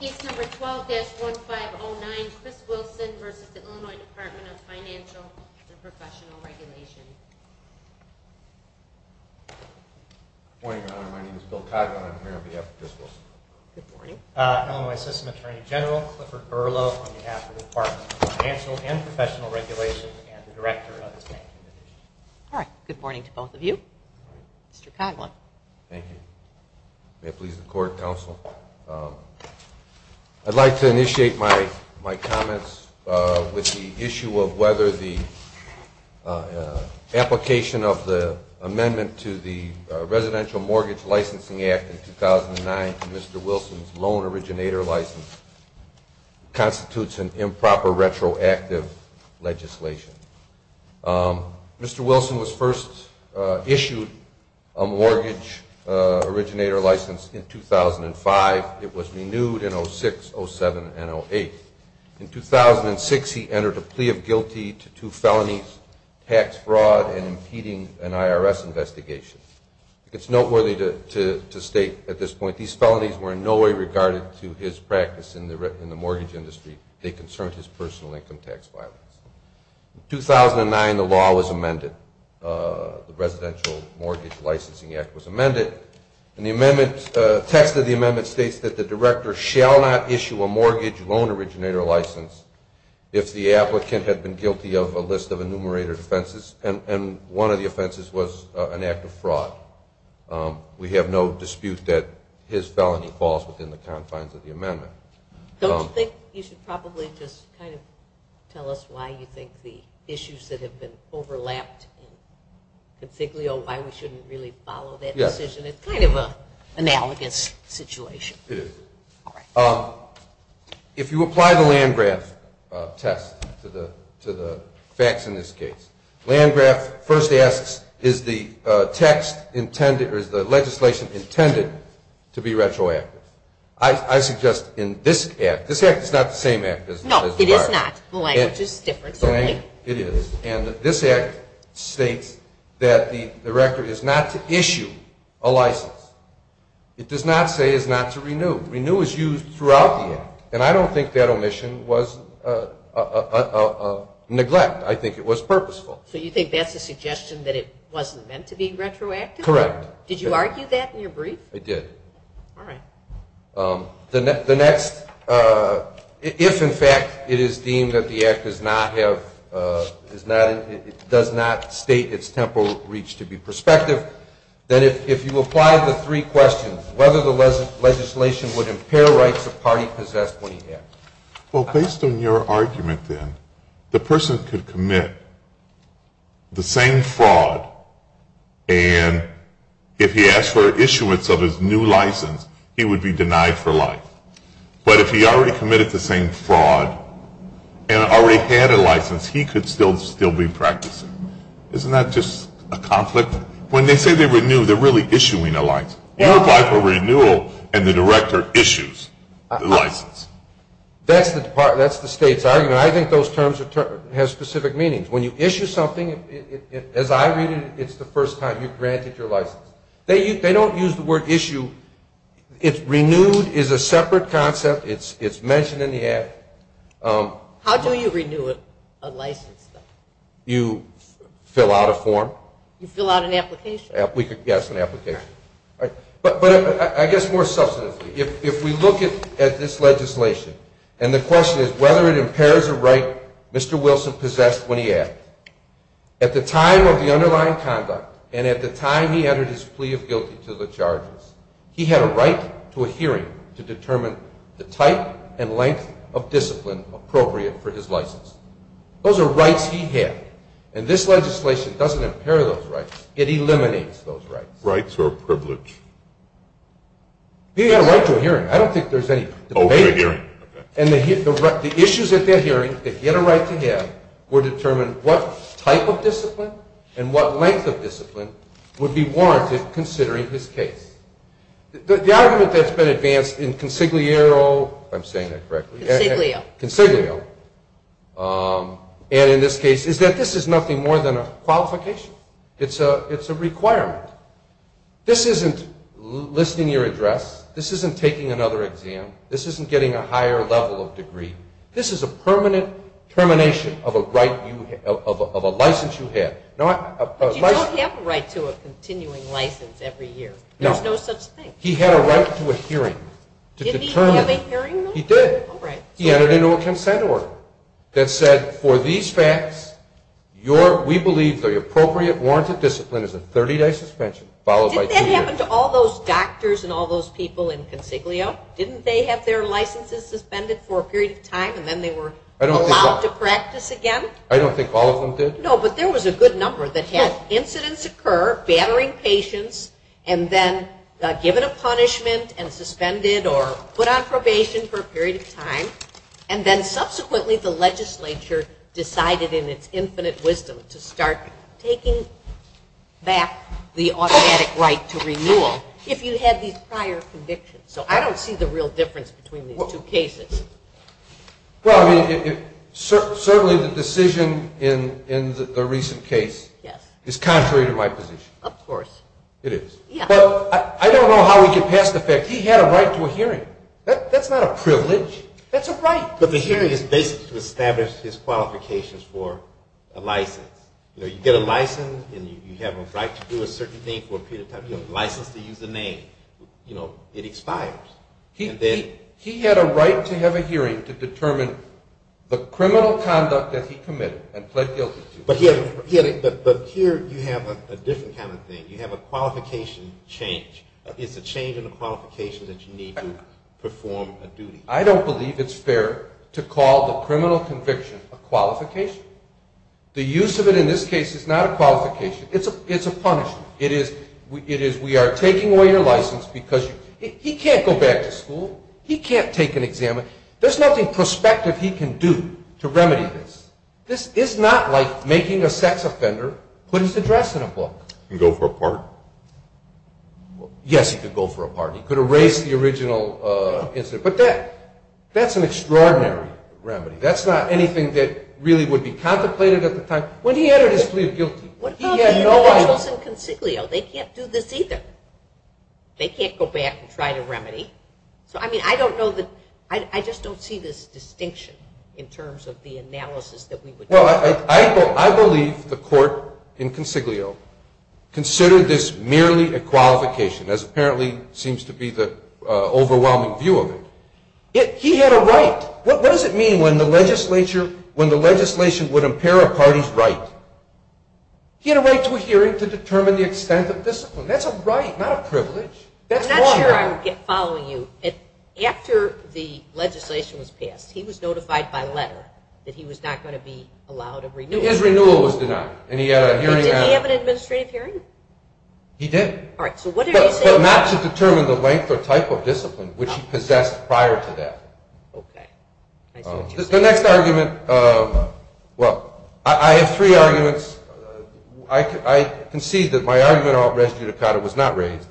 Case number 12-1509, Chris Wilson v. Illinois Department of Financial and Professional Regulation Good morning, Your Honor. My name is Bill Coghlan. I'm here on behalf of Chris Wilson. Illinois System Attorney General Clifford Berlow on behalf of the Department of Financial and Professional Regulation and the Director of the Banking Division. All right. Good morning to both of you. Mr. Coghlan. Thank you. May it please the Court, Counsel. I'd like to initiate my comments with the issue of whether the application of the amendment to the Residential Mortgage Licensing Act in 2009 to Mr. Wilson's loan originator license constitutes an improper retroactive legislation. Mr. Wilson was first issued a mortgage originator license in 2005. It was renewed in 2006, 07, and 08. In 2006, he entered a plea of guilty to two felonies, tax fraud and impeding an IRS investigation. It's noteworthy to state at this point these felonies were in no way regarded to his practice in the mortgage industry. They concerned his personal income tax filings. In 2009, the law was amended. The Residential Mortgage Licensing Act was amended. The text of the amendment states that the director shall not issue a mortgage loan originator license if the applicant had been guilty of a list of enumerated offenses and one of the offenses was an act of fraud. We have no dispute that his felony falls within the confines of the amendment. Don't you think you should probably just kind of tell us why you think the issues that have been overlapped and why we shouldn't really follow that decision? It's kind of an analogous situation. It is. If you apply the Landgraf test to the facts in this case, Landgraf first asks is the text intended or is the legislation intended to be retroactive? I suggest in this act, this act is not the same act. No, it is not. The language is different. It is. And this act states that the director is not to issue a license. It does not say is not to renew. Renew is used throughout the act. And I don't think that omission was a neglect. I think it was purposeful. So you think that's a suggestion that it wasn't meant to be retroactive? Correct. Did you argue that in your brief? I did. All right. The next, if in fact it is deemed that the act does not state its temporal reach to be prospective, then if you apply the three questions, whether the legislation would impair rights a party possessed when he acts. Well, based on your argument then, the person could commit the same fraud and if he asked for issuance of his new license, he would be denied for life. But if he already committed the same fraud and already had a license, he could still be practicing. Isn't that just a conflict? When they say they renew, they're really issuing a license. You apply for renewal and the director issues the license. That's the state's argument. I think those terms have specific meanings. When you issue something, as I read it, it's the first time you've granted your license. They don't use the word issue. Renewed is a separate concept. It's mentioned in the act. How do you renew a license, though? You fill out a form. You fill out an application. Yes, an application. But I guess more substantively, if we look at this legislation and the question is whether it impairs a right Mr. Wilson possessed when he acted. At the time of the underlying conduct and at the time he entered his plea of guilty to the charges, he had a right to a hearing to determine the type and length of discipline appropriate for his license. Those are rights he had. And this legislation doesn't impair those rights. It eliminates those rights. Rights or privilege? He had a right to a hearing. I don't think there's any debate. And the issues at that hearing that he had a right to have were determined what type of discipline and what length of discipline would be warranted considering his case. The argument that's been advanced in consiglio and in this case is that this is nothing more than a qualification. It's a requirement. This isn't listing your address. This isn't taking another exam. This isn't getting a higher level of degree. This is a permanent termination of a license you had. But you don't have a right to a continuing license every year. There's no such thing. He had a right to a hearing. Didn't he have a hearing? He did. He entered into a consent order that said for these facts, we believe the appropriate warranted discipline is a 30-day suspension followed by two years. Didn't that happen to all those doctors and all those people in consiglio? Didn't they have their licenses suspended for a period of time and then they were allowed to practice again? I don't think all of them did. No, but there was a good number that had incidents occur, battering patients, and then given a punishment and suspended or put on probation for a period of time, and then subsequently the legislature decided in its infinite wisdom to start taking back the automatic right to renewal if you had these prior convictions. So I don't see the real difference between these two cases. Well, certainly the decision in the recent case is contrary to my position. Of course. It is. But I don't know how he could pass the fact he had a right to a hearing. That's not a privilege. That's a right. But the hearing is basically to establish his qualifications for a license. You get a license and you have a right to do a certain thing for a period of time. You have a license to use a name. It expires. He had a right to have a hearing to determine the criminal conduct that he committed and pled guilty to. But here you have a different kind of thing. You have a qualification change. It's a change in the qualification that you need to perform a duty. I don't believe it's fair to call the criminal conviction a qualification. The use of it in this case is not a qualification. It's a punishment. It is we are taking away your license because he can't go back to school. He can't take an exam. There's nothing prospective he can do to remedy this. This is not like making a sex offender put his address in a book. He could go for a pardon. Yes, he could go for a pardon. He could erase the original incident. But that's an extraordinary remedy. That's not anything that really would be contemplated at the time. When he entered his plea of guilty, he had no idea. The courts in Consiglio, they can't do this either. They can't go back and try to remedy. I just don't see this distinction in terms of the analysis that we would do. I believe the court in Consiglio considered this merely a qualification, as apparently seems to be the overwhelming view of it. He had a right. What does it mean when the legislation would impair a party's right? He had a right to a hearing to determine the extent of discipline. That's a right, not a privilege. I'm not sure I'm following you. After the legislation was passed, he was notified by letter that he was not going to be allowed a renewal. His renewal was denied, and he had a hearing. Did he have an administrative hearing? He did. All right, so what are you saying? But not to determine the length or type of discipline, which he possessed prior to that. Okay, I see what you're saying. The next argument, well, I have three arguments. I concede that my argument about res judicata was not raised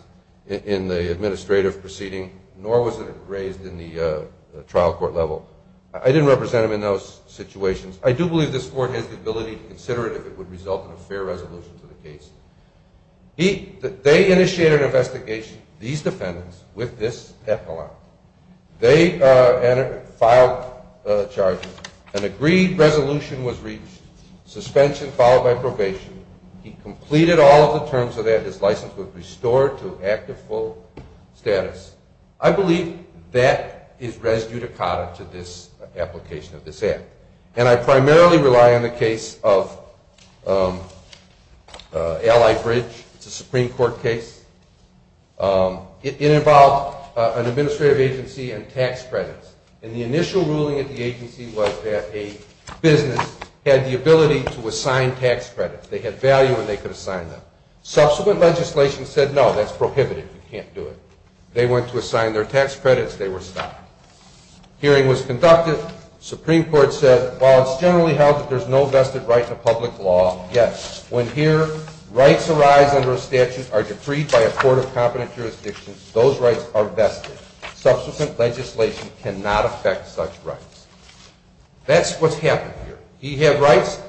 in the administrative proceeding, nor was it raised in the trial court level. I didn't represent him in those situations. I do believe this court has the ability to consider it if it would result in a fair resolution to the case. They initiated an investigation, these defendants, with this epilogue. They filed charges. An agreed resolution was reached, suspension followed by probation. He completed all of the terms of that. His license was restored to active full status. I believe that is res judicata to this application of this act, and I primarily rely on the case of Allied Bridge. It's a Supreme Court case. It involved an administrative agency and tax credits, and the initial ruling of the agency was that a business had the ability to assign tax credits. They had value when they could assign them. Subsequent legislation said, no, that's prohibited. You can't do it. They went to assign their tax credits. They were stopped. Hearing was conducted. Supreme Court said, while it's generally held that there's no vested right to public law, yes, when here rights arise under a statute are decreed by a court of competent jurisdictions, those rights are vested. Subsequent legislation cannot affect such rights. That's what's happened here. He had rights.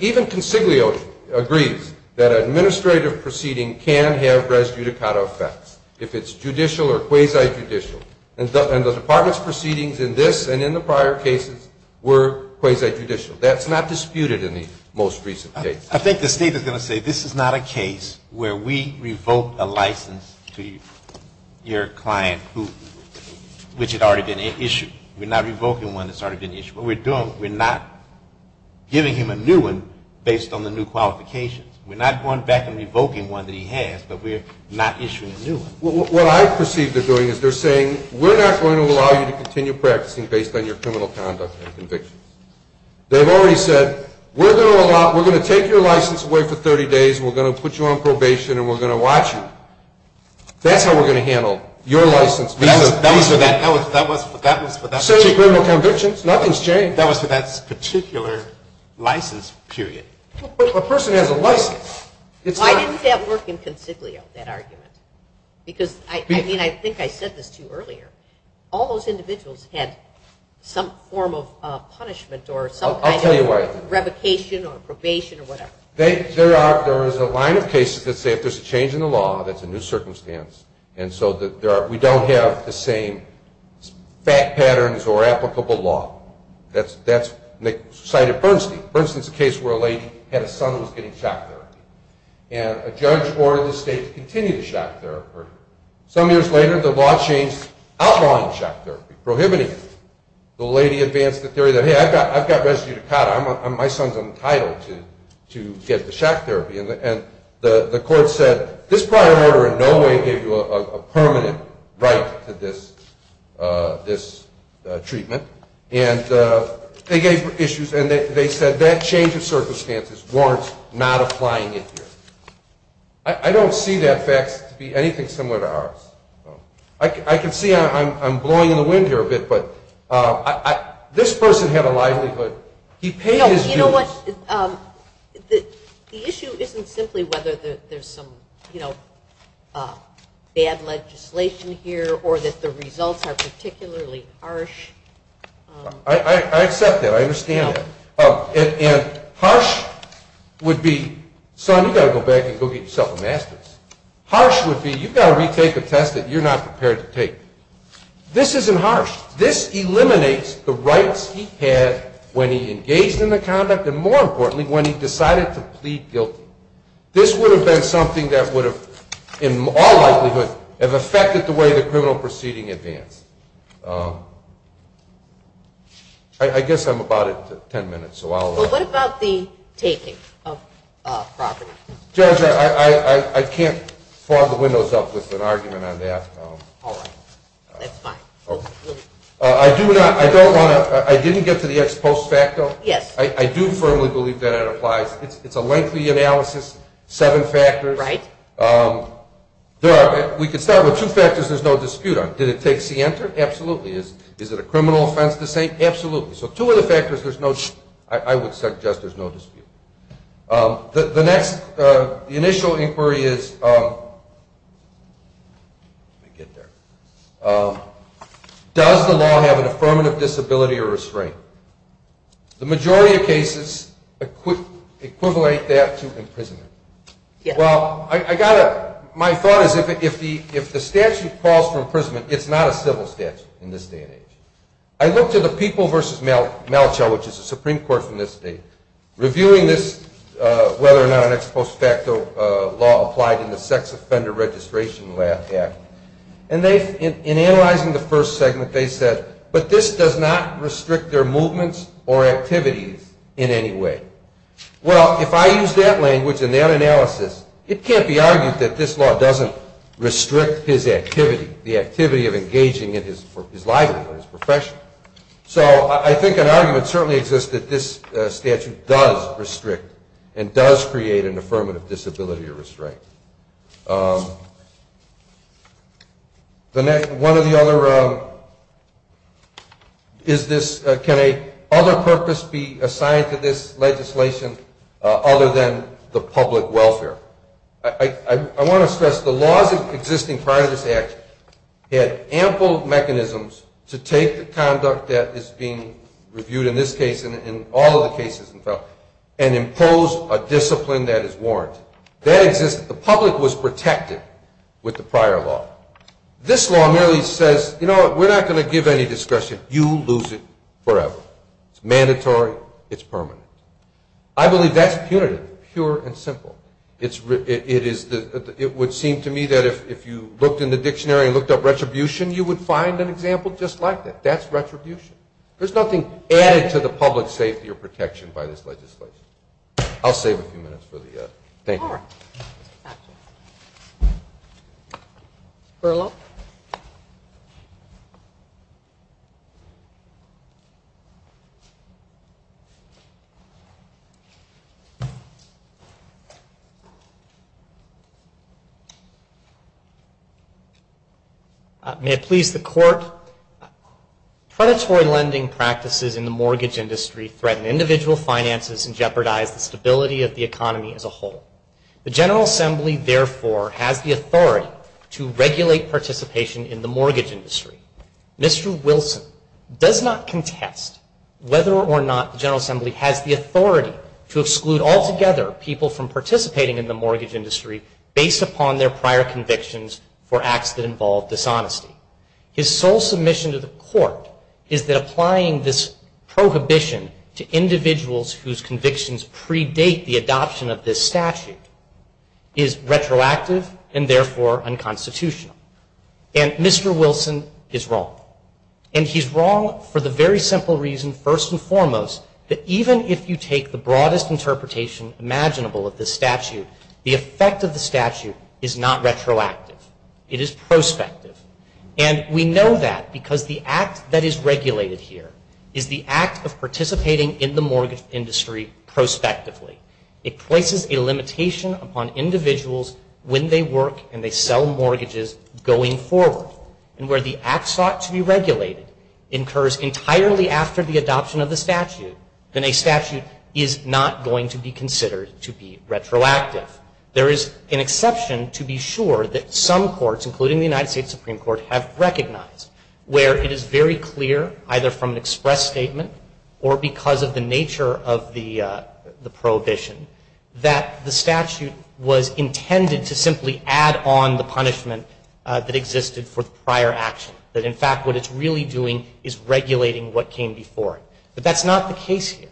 Even Consiglio agrees that an administrative proceeding can have res judicata effects if it's judicial or quasi-judicial, and the department's proceedings in this and in the prior cases were quasi-judicial. That's not disputed in the most recent case. I think the State is going to say this is not a case where we revoke a license to your client, which had already been issued. We're not revoking one that's already been issued. What we're doing, we're not giving him a new one based on the new qualifications. We're not going back and revoking one that he has, but we're not issuing a new one. What I perceive they're doing is they're saying, we're not going to allow you to continue practicing based on your criminal conduct and convictions. They've already said, we're going to take your license away for 30 days, and we're going to put you on probation, and we're going to watch you. That's how we're going to handle your license. That was for that particular license period. A person has a license. Why didn't that work in Consiglio, that argument? All those individuals had some form of punishment or some kind of revocation or probation or whatever. There is a line of cases that say if there's a change in the law, that's a new circumstance, and so we don't have the same fact patterns or applicable law. That's cited Bernstein. Bernstein is a case where a lady had a son who was getting shock therapy, and a judge ordered the State to continue the shock therapy. Some years later, the law changed, outlawing shock therapy, prohibiting it. The lady advanced the theory that, hey, I've got res judicata. My son's entitled to get the shock therapy. And the court said, this prior order in no way gave you a permanent right to this treatment. And they gave issues, and they said that change of circumstances warrants not applying it here. I don't see that fact to be anything similar to ours. I can see I'm blowing in the wind here a bit, but this person had a livelihood. He paid his dues. You know what, the issue isn't simply whether there's some bad legislation here or that the results are particularly harsh. I accept that. I understand that. And harsh would be, son, you've got to go back and go get yourself a master's. Harsh would be, you've got to retake a test that you're not prepared to take. This isn't harsh. This eliminates the rights he had when he engaged in the conduct and, more importantly, when he decided to plead guilty. This would have been something that would have, in all likelihood, have affected the way the criminal proceeding advanced. I guess I'm about at ten minutes, so I'll let you go. Well, what about the taking of property? Judge, I can't fog the windows up with an argument on that. All right. That's fine. I didn't get to the ex post facto. Yes. I do firmly believe that it applies. It's a lengthy analysis, seven factors. Right. We could start with two factors there's no dispute on. Did it take scienter? Absolutely. Is it a criminal offense to say? Absolutely. So two of the factors there's no, I would suggest there's no dispute. The next, the initial inquiry is, let me get there. Does the law have an affirmative disability or restraint? The majority of cases equivalent that to imprisonment. Well, I got to, my thought is if the statute calls for imprisonment, it's not a civil statute in this day and age. I looked at the People v. Malachow, which is a Supreme Court from this state, reviewing this whether or not an ex post facto law applied in the Sex Offender Registration Act. And in analyzing the first segment, they said, but this does not restrict their movements or activities in any way. Well, if I use that language and that analysis, it can't be argued that this law doesn't restrict his activity, the activity of engaging in his livelihood, his profession. So I think an argument certainly exists that this statute does restrict and does create an affirmative disability or restraint. One of the other, is this, can a other purpose be assigned to this legislation other than the public welfare? I want to stress the laws existing prior to this act had ample mechanisms to take the conduct that is being reviewed in this case and in all of the cases and impose a discipline that is warranted. That exists, the public was protected with the prior law. This law merely says, you know what, we're not going to give any discussion. You lose it forever. It's mandatory. It's permanent. I believe that's punitive, pure and simple. It would seem to me that if you looked in the dictionary and looked up retribution, you would find an example just like that. That's retribution. There's nothing added to the public safety or protection by this legislation. I'll save a few minutes for the other. Thank you. All right. Burlough. May it please the court, predatory lending practices in the mortgage industry threaten individual finances and jeopardize the stability of the mortgage industry. The General Assembly, therefore, has the authority to regulate participation in the mortgage industry. Mr. Wilson does not contest whether or not the General Assembly has the authority to exclude altogether people from participating in the mortgage industry based upon their prior convictions for acts that involve dishonesty. His sole submission to the court is that applying this prohibition to retroactive and, therefore, unconstitutional. And Mr. Wilson is wrong. And he's wrong for the very simple reason, first and foremost, that even if you take the broadest interpretation imaginable of this statute, the effect of the statute is not retroactive. It is prospective. And we know that because the act that is regulated here is the act of participating in the mortgage industry prospectively. It places a limitation upon individuals when they work and they sell mortgages going forward. And where the act sought to be regulated incurs entirely after the adoption of the statute, then a statute is not going to be considered to be retroactive. There is an exception to be sure that some courts, including the United States Supreme Court, have recognized where it is very clear, either from the statute was intended to simply add on the punishment that existed for the prior action. That, in fact, what it's really doing is regulating what came before it. But that's not the case here.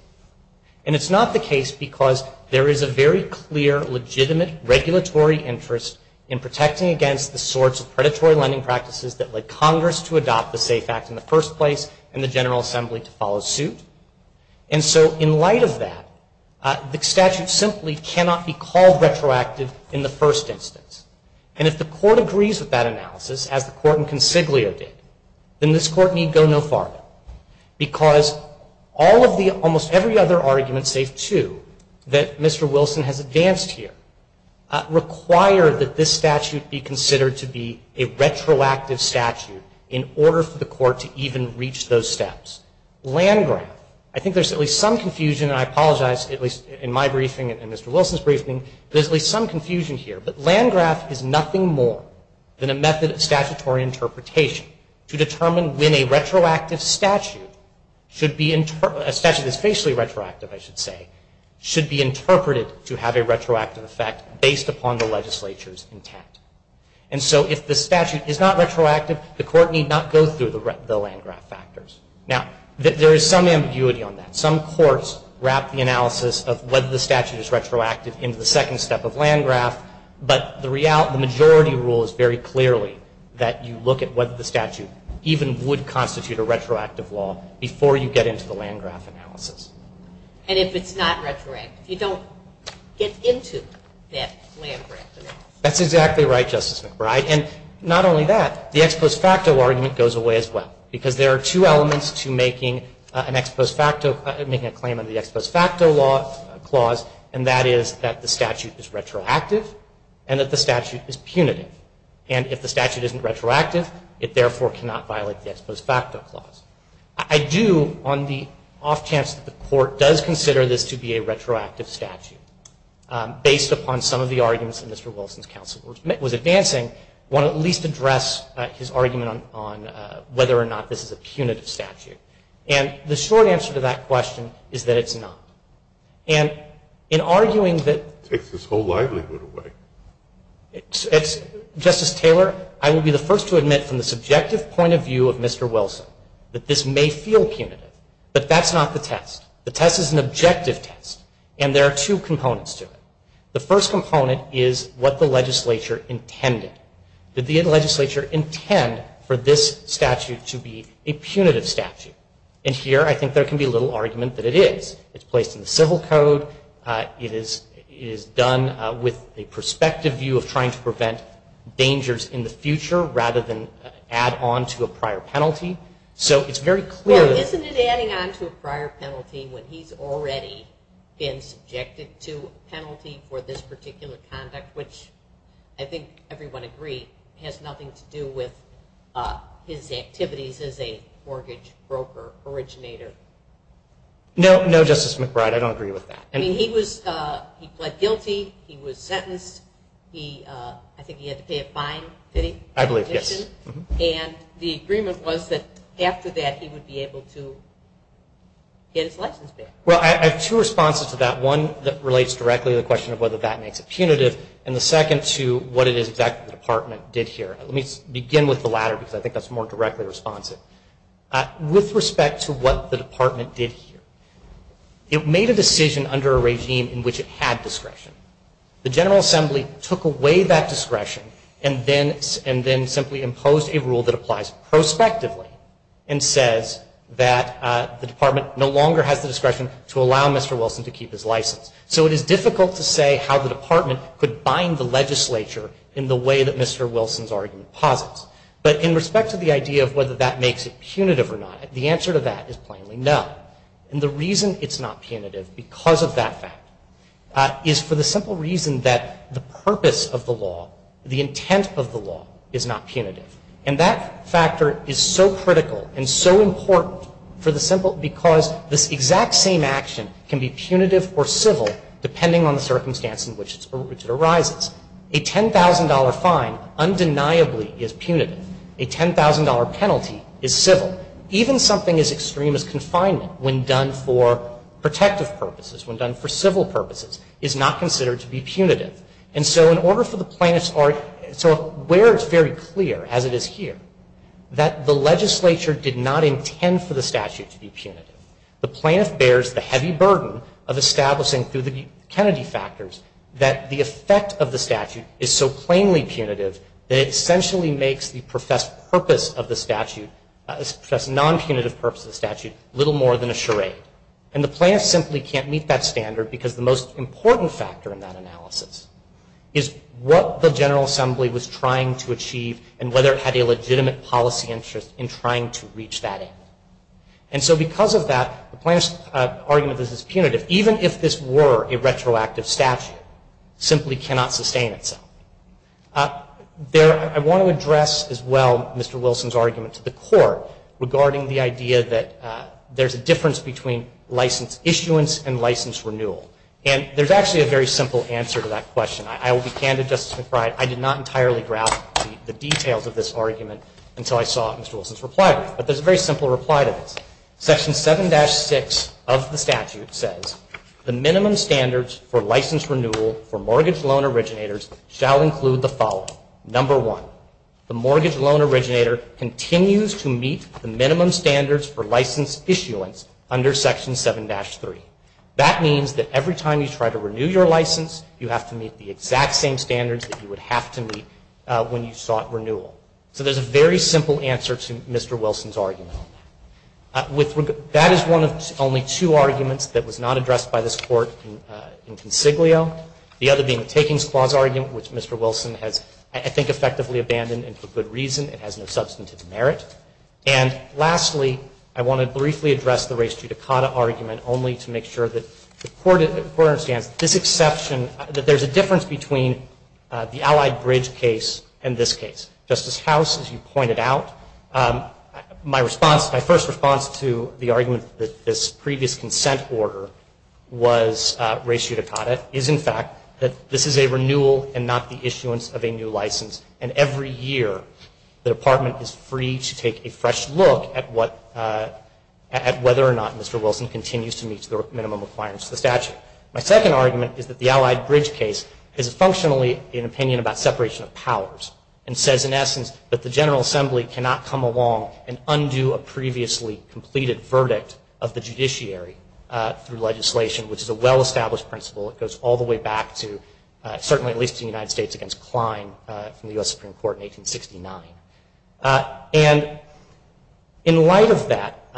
And it's not the case because there is a very clear, legitimate regulatory interest in protecting against the sorts of predatory lending practices that led Congress to adopt the SAFE Act in the first place and the General Assembly to follow suit. And so in light of that, the statute simply cannot be called retroactive in the first instance. And if the court agrees with that analysis, as the court in Consiglio did, then this court need go no farther because all of the, almost every other argument, save two, that Mr. Wilson has advanced here, require that this statute be considered to be a retroactive statute in order for the court to even reach those steps. Landgraf, I think there's at least some confusion, and I apologize, at least in my briefing and Mr. Wilson's briefing, there's at least some confusion here. But Landgraf is nothing more than a method of statutory interpretation to determine when a retroactive statute should be, a statute that's facially retroactive, I should say, should be interpreted to have a retroactive effect based upon the legislature's intent. And so if the statute is not retroactive, the court need not go through the Landgraf factors. Now, there is some ambiguity on that. Some courts wrap the analysis of whether the statute is retroactive into the second step of Landgraf, but the majority rule is very clearly that you look at whether the statute even would constitute a retroactive law before you get into the Landgraf analysis. And if it's not retroactive, you don't get into that Landgraf analysis. That's exactly right, Justice McBride. And not only that, the ex post facto argument goes away as well because there are two elements to making a claim under the ex post facto clause, and that is that the statute is retroactive and that the statute is punitive. And if the statute isn't retroactive, it therefore cannot violate the ex post facto clause. I do, on the off chance that the court does consider this to be a retroactive statute, based upon some of the arguments that Mr. Wilson's counsel was advancing, want to at least address his argument on whether or not this is a punitive statute. And the short answer to that question is that it's not. And in arguing that It takes his whole livelihood away. Justice Taylor, I will be the first to admit from the subjective point of view of Mr. Wilson that this may feel punitive, but that's not the test. The test is an objective test, and there are two components to it. The first component is what the legislature intended. Did the legislature intend for this statute to be a punitive statute? And here I think there can be little argument that it is. It's placed in the civil code. It is done with a perspective view of trying to prevent dangers in the future rather than add on to a prior penalty. So it's very clear that Well, isn't it adding on to a prior penalty when he's already been subjected to a penalty for this particular conduct, which I think everyone agreed has nothing to do with his activities as a mortgage broker originator? No, Justice McBride. I don't agree with that. I mean, he pled guilty. He was sentenced. I think he had to pay a fine. Did he? I believe, yes. And the agreement was that after that he would be able to get his license back. Well, I have two responses to that. One that relates directly to the question of whether that makes it punitive, and the second to what it is exactly the Department did here. Let me begin with the latter because I think that's more directly responsive. With respect to what the Department did here, it made a decision under a regime in which it had discretion. The General Assembly took away that discretion and then simply imposed a rule that applies prospectively and says that the Department no longer has the discretion to allow Mr. Wilson to keep his license. So it is difficult to say how the Department could bind the legislature in the way that Mr. Wilson's argument posits. But in respect to the idea of whether that makes it punitive or not, the answer to that is plainly no. And the reason it's not punitive because of that fact is for the simple reason that the purpose of the law, the intent of the law, is not punitive. And that factor is so critical and so important for the simple because this exact same action can be punitive or civil depending on the circumstance in which it arises. A $10,000 fine undeniably is punitive. A $10,000 penalty is civil. Even something as extreme as confinement when done for protective purposes, when done for civil purposes, is not considered to be punitive. And so where it's very clear, as it is here, that the legislature did not intend for the statute to be punitive, the plaintiff bears the heavy burden of establishing through the Kennedy factors that the effect of the statute is so plainly punitive that it essentially makes the non-punitive purpose of the statute little more than a charade. And the plaintiff simply can't meet that standard because the most important factor in that analysis is what the General Assembly was trying to achieve and whether it had a legitimate policy interest in trying to reach that end. And so because of that, the plaintiff's argument that this is punitive, even if this were a retroactive statute, simply cannot sustain itself. I want to address as well Mr. Wilson's argument to the court regarding the idea that there's a difference between license issuance and license renewal. And there's actually a very simple answer to that question. I will be candid, Justice McBride, I did not entirely grasp the details of this argument until I saw Mr. Wilson's reply to it. But there's a very simple reply to this. Section 7-6 of the statute says, the minimum standards for license renewal for mortgage loan originators shall include the following. Number one, the mortgage loan originator continues to meet the minimum standards for license issuance under Section 7-3. That means that every time you try to renew your license, you have to meet the exact same standards that you would have to meet when you sought renewal. So there's a very simple answer to Mr. Wilson's argument on that. That is one of only two arguments that was not addressed by this Court in consiglio. The other being the Takings Clause argument, which Mr. Wilson has, I think, effectively abandoned, and for good reason. It has no substantive merit. And lastly, I want to briefly address the Res Judicata argument only to make sure that the Court understands this exception, that there's a difference between the Allied Bridge case and this case. Justice House, as you pointed out, my first response to the argument that this previous consent order was Res Judicata is, in fact, that this is a renewal and not the issuance of a new license. And every year, the Department is free to take a fresh look at whether or not Mr. Wilson continues to meet the minimum requirements of the statute. My second argument is that the Allied Bridge case is functionally an opinion about separation of powers and says, in essence, that the General Assembly cannot come along and undo a previously completed verdict of the judiciary through legislation, which is a well-established principle. It goes all the way back to, certainly at least to the United States against Klein from the U.S. Supreme Court in 1869. And in light of that,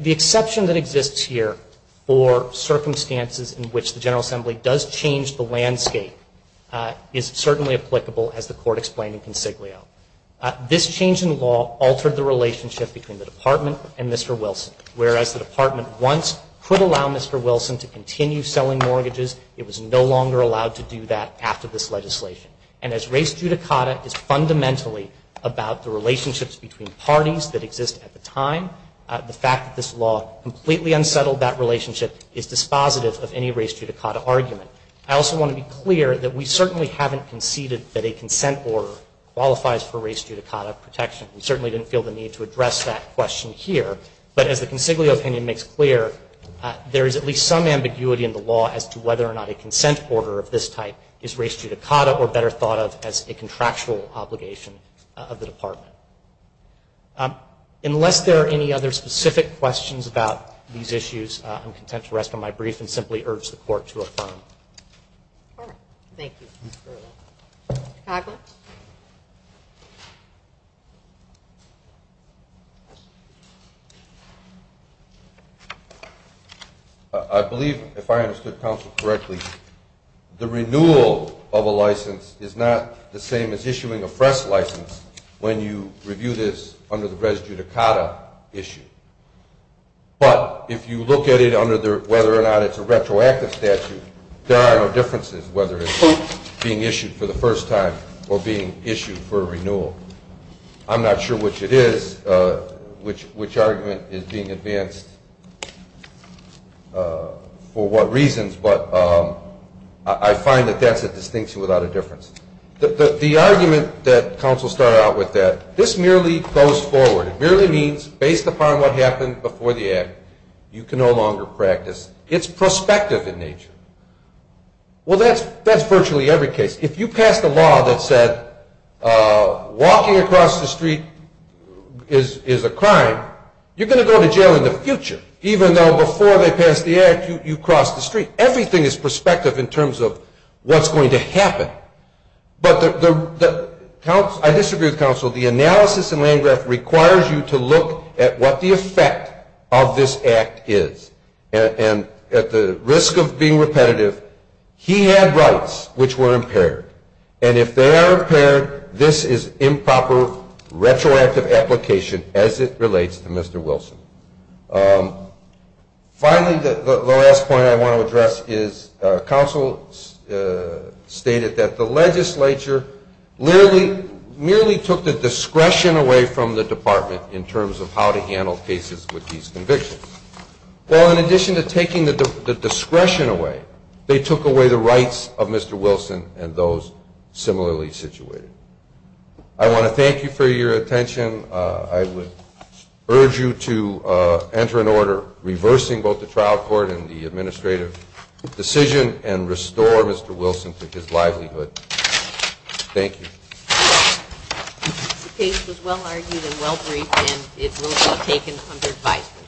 the exception that exists here for circumstances in which the General Assembly does change the landscape is certainly applicable, as the Court explained in Consiglio. This change in law altered the relationship between the Department and Mr. Wilson. Whereas the Department once could allow Mr. Wilson to continue selling mortgages, it was no longer allowed to do that after this legislation. And as race judicata is fundamentally about the relationships between parties that exist at the time, the fact that this law completely unsettled that relationship is dispositive of any race judicata argument. I also want to be clear that we certainly haven't conceded that a consent order qualifies for race judicata protection. We certainly didn't feel the need to address that question here. But as the Consiglio opinion makes clear, there is at least some ambiguity in the law as to whether or not a consent order of this type is race judicata or better thought of as a contractual obligation of the Department. Unless there are any other specific questions about these issues, I'm content to rest on my brief and simply urge the Court to affirm. Thank you. Mr. Coghlan? I believe, if I understood counsel correctly, the renewal of a license is not the same as issuing a fresh license when you review this under the race judicata issue. But if you look at it under whether or not it's a retroactive statute, there are no differences whether it's being issued for the first time or being issued for renewal. I'm not sure which it is, which argument is being advanced for what reasons, but I find that that's a distinction without a difference. The argument that counsel started out with, that this merely goes forward, it merely means based upon what happened before the Act, you can no longer practice. It's prospective in nature. Well, that's virtually every case. If you pass the law that said walking across the street is a crime, you're going to go to jail in the future, even though before they pass the Act you crossed the street. Everything is prospective in terms of what's going to happen. But I disagree with counsel. The analysis in Landgraf requires you to look at what the effect of this Act is. And at the risk of being repetitive, he had rights which were impaired. And if they are impaired, this is improper retroactive application as it relates to Mr. Wilson. Finally, the last point I want to address is counsel stated that the legislature merely took the discretion away from the department in terms of how to handle cases with these convictions. Well, in addition to taking the discretion away, they took away the rights of Mr. Wilson and those similarly situated. I want to thank you for your attention. I would urge you to enter an order reversing both the trial court and the administrative decision and restore Mr. Wilson to his livelihood. Thank you. The case was well argued and well briefed and it will be taken under advisement.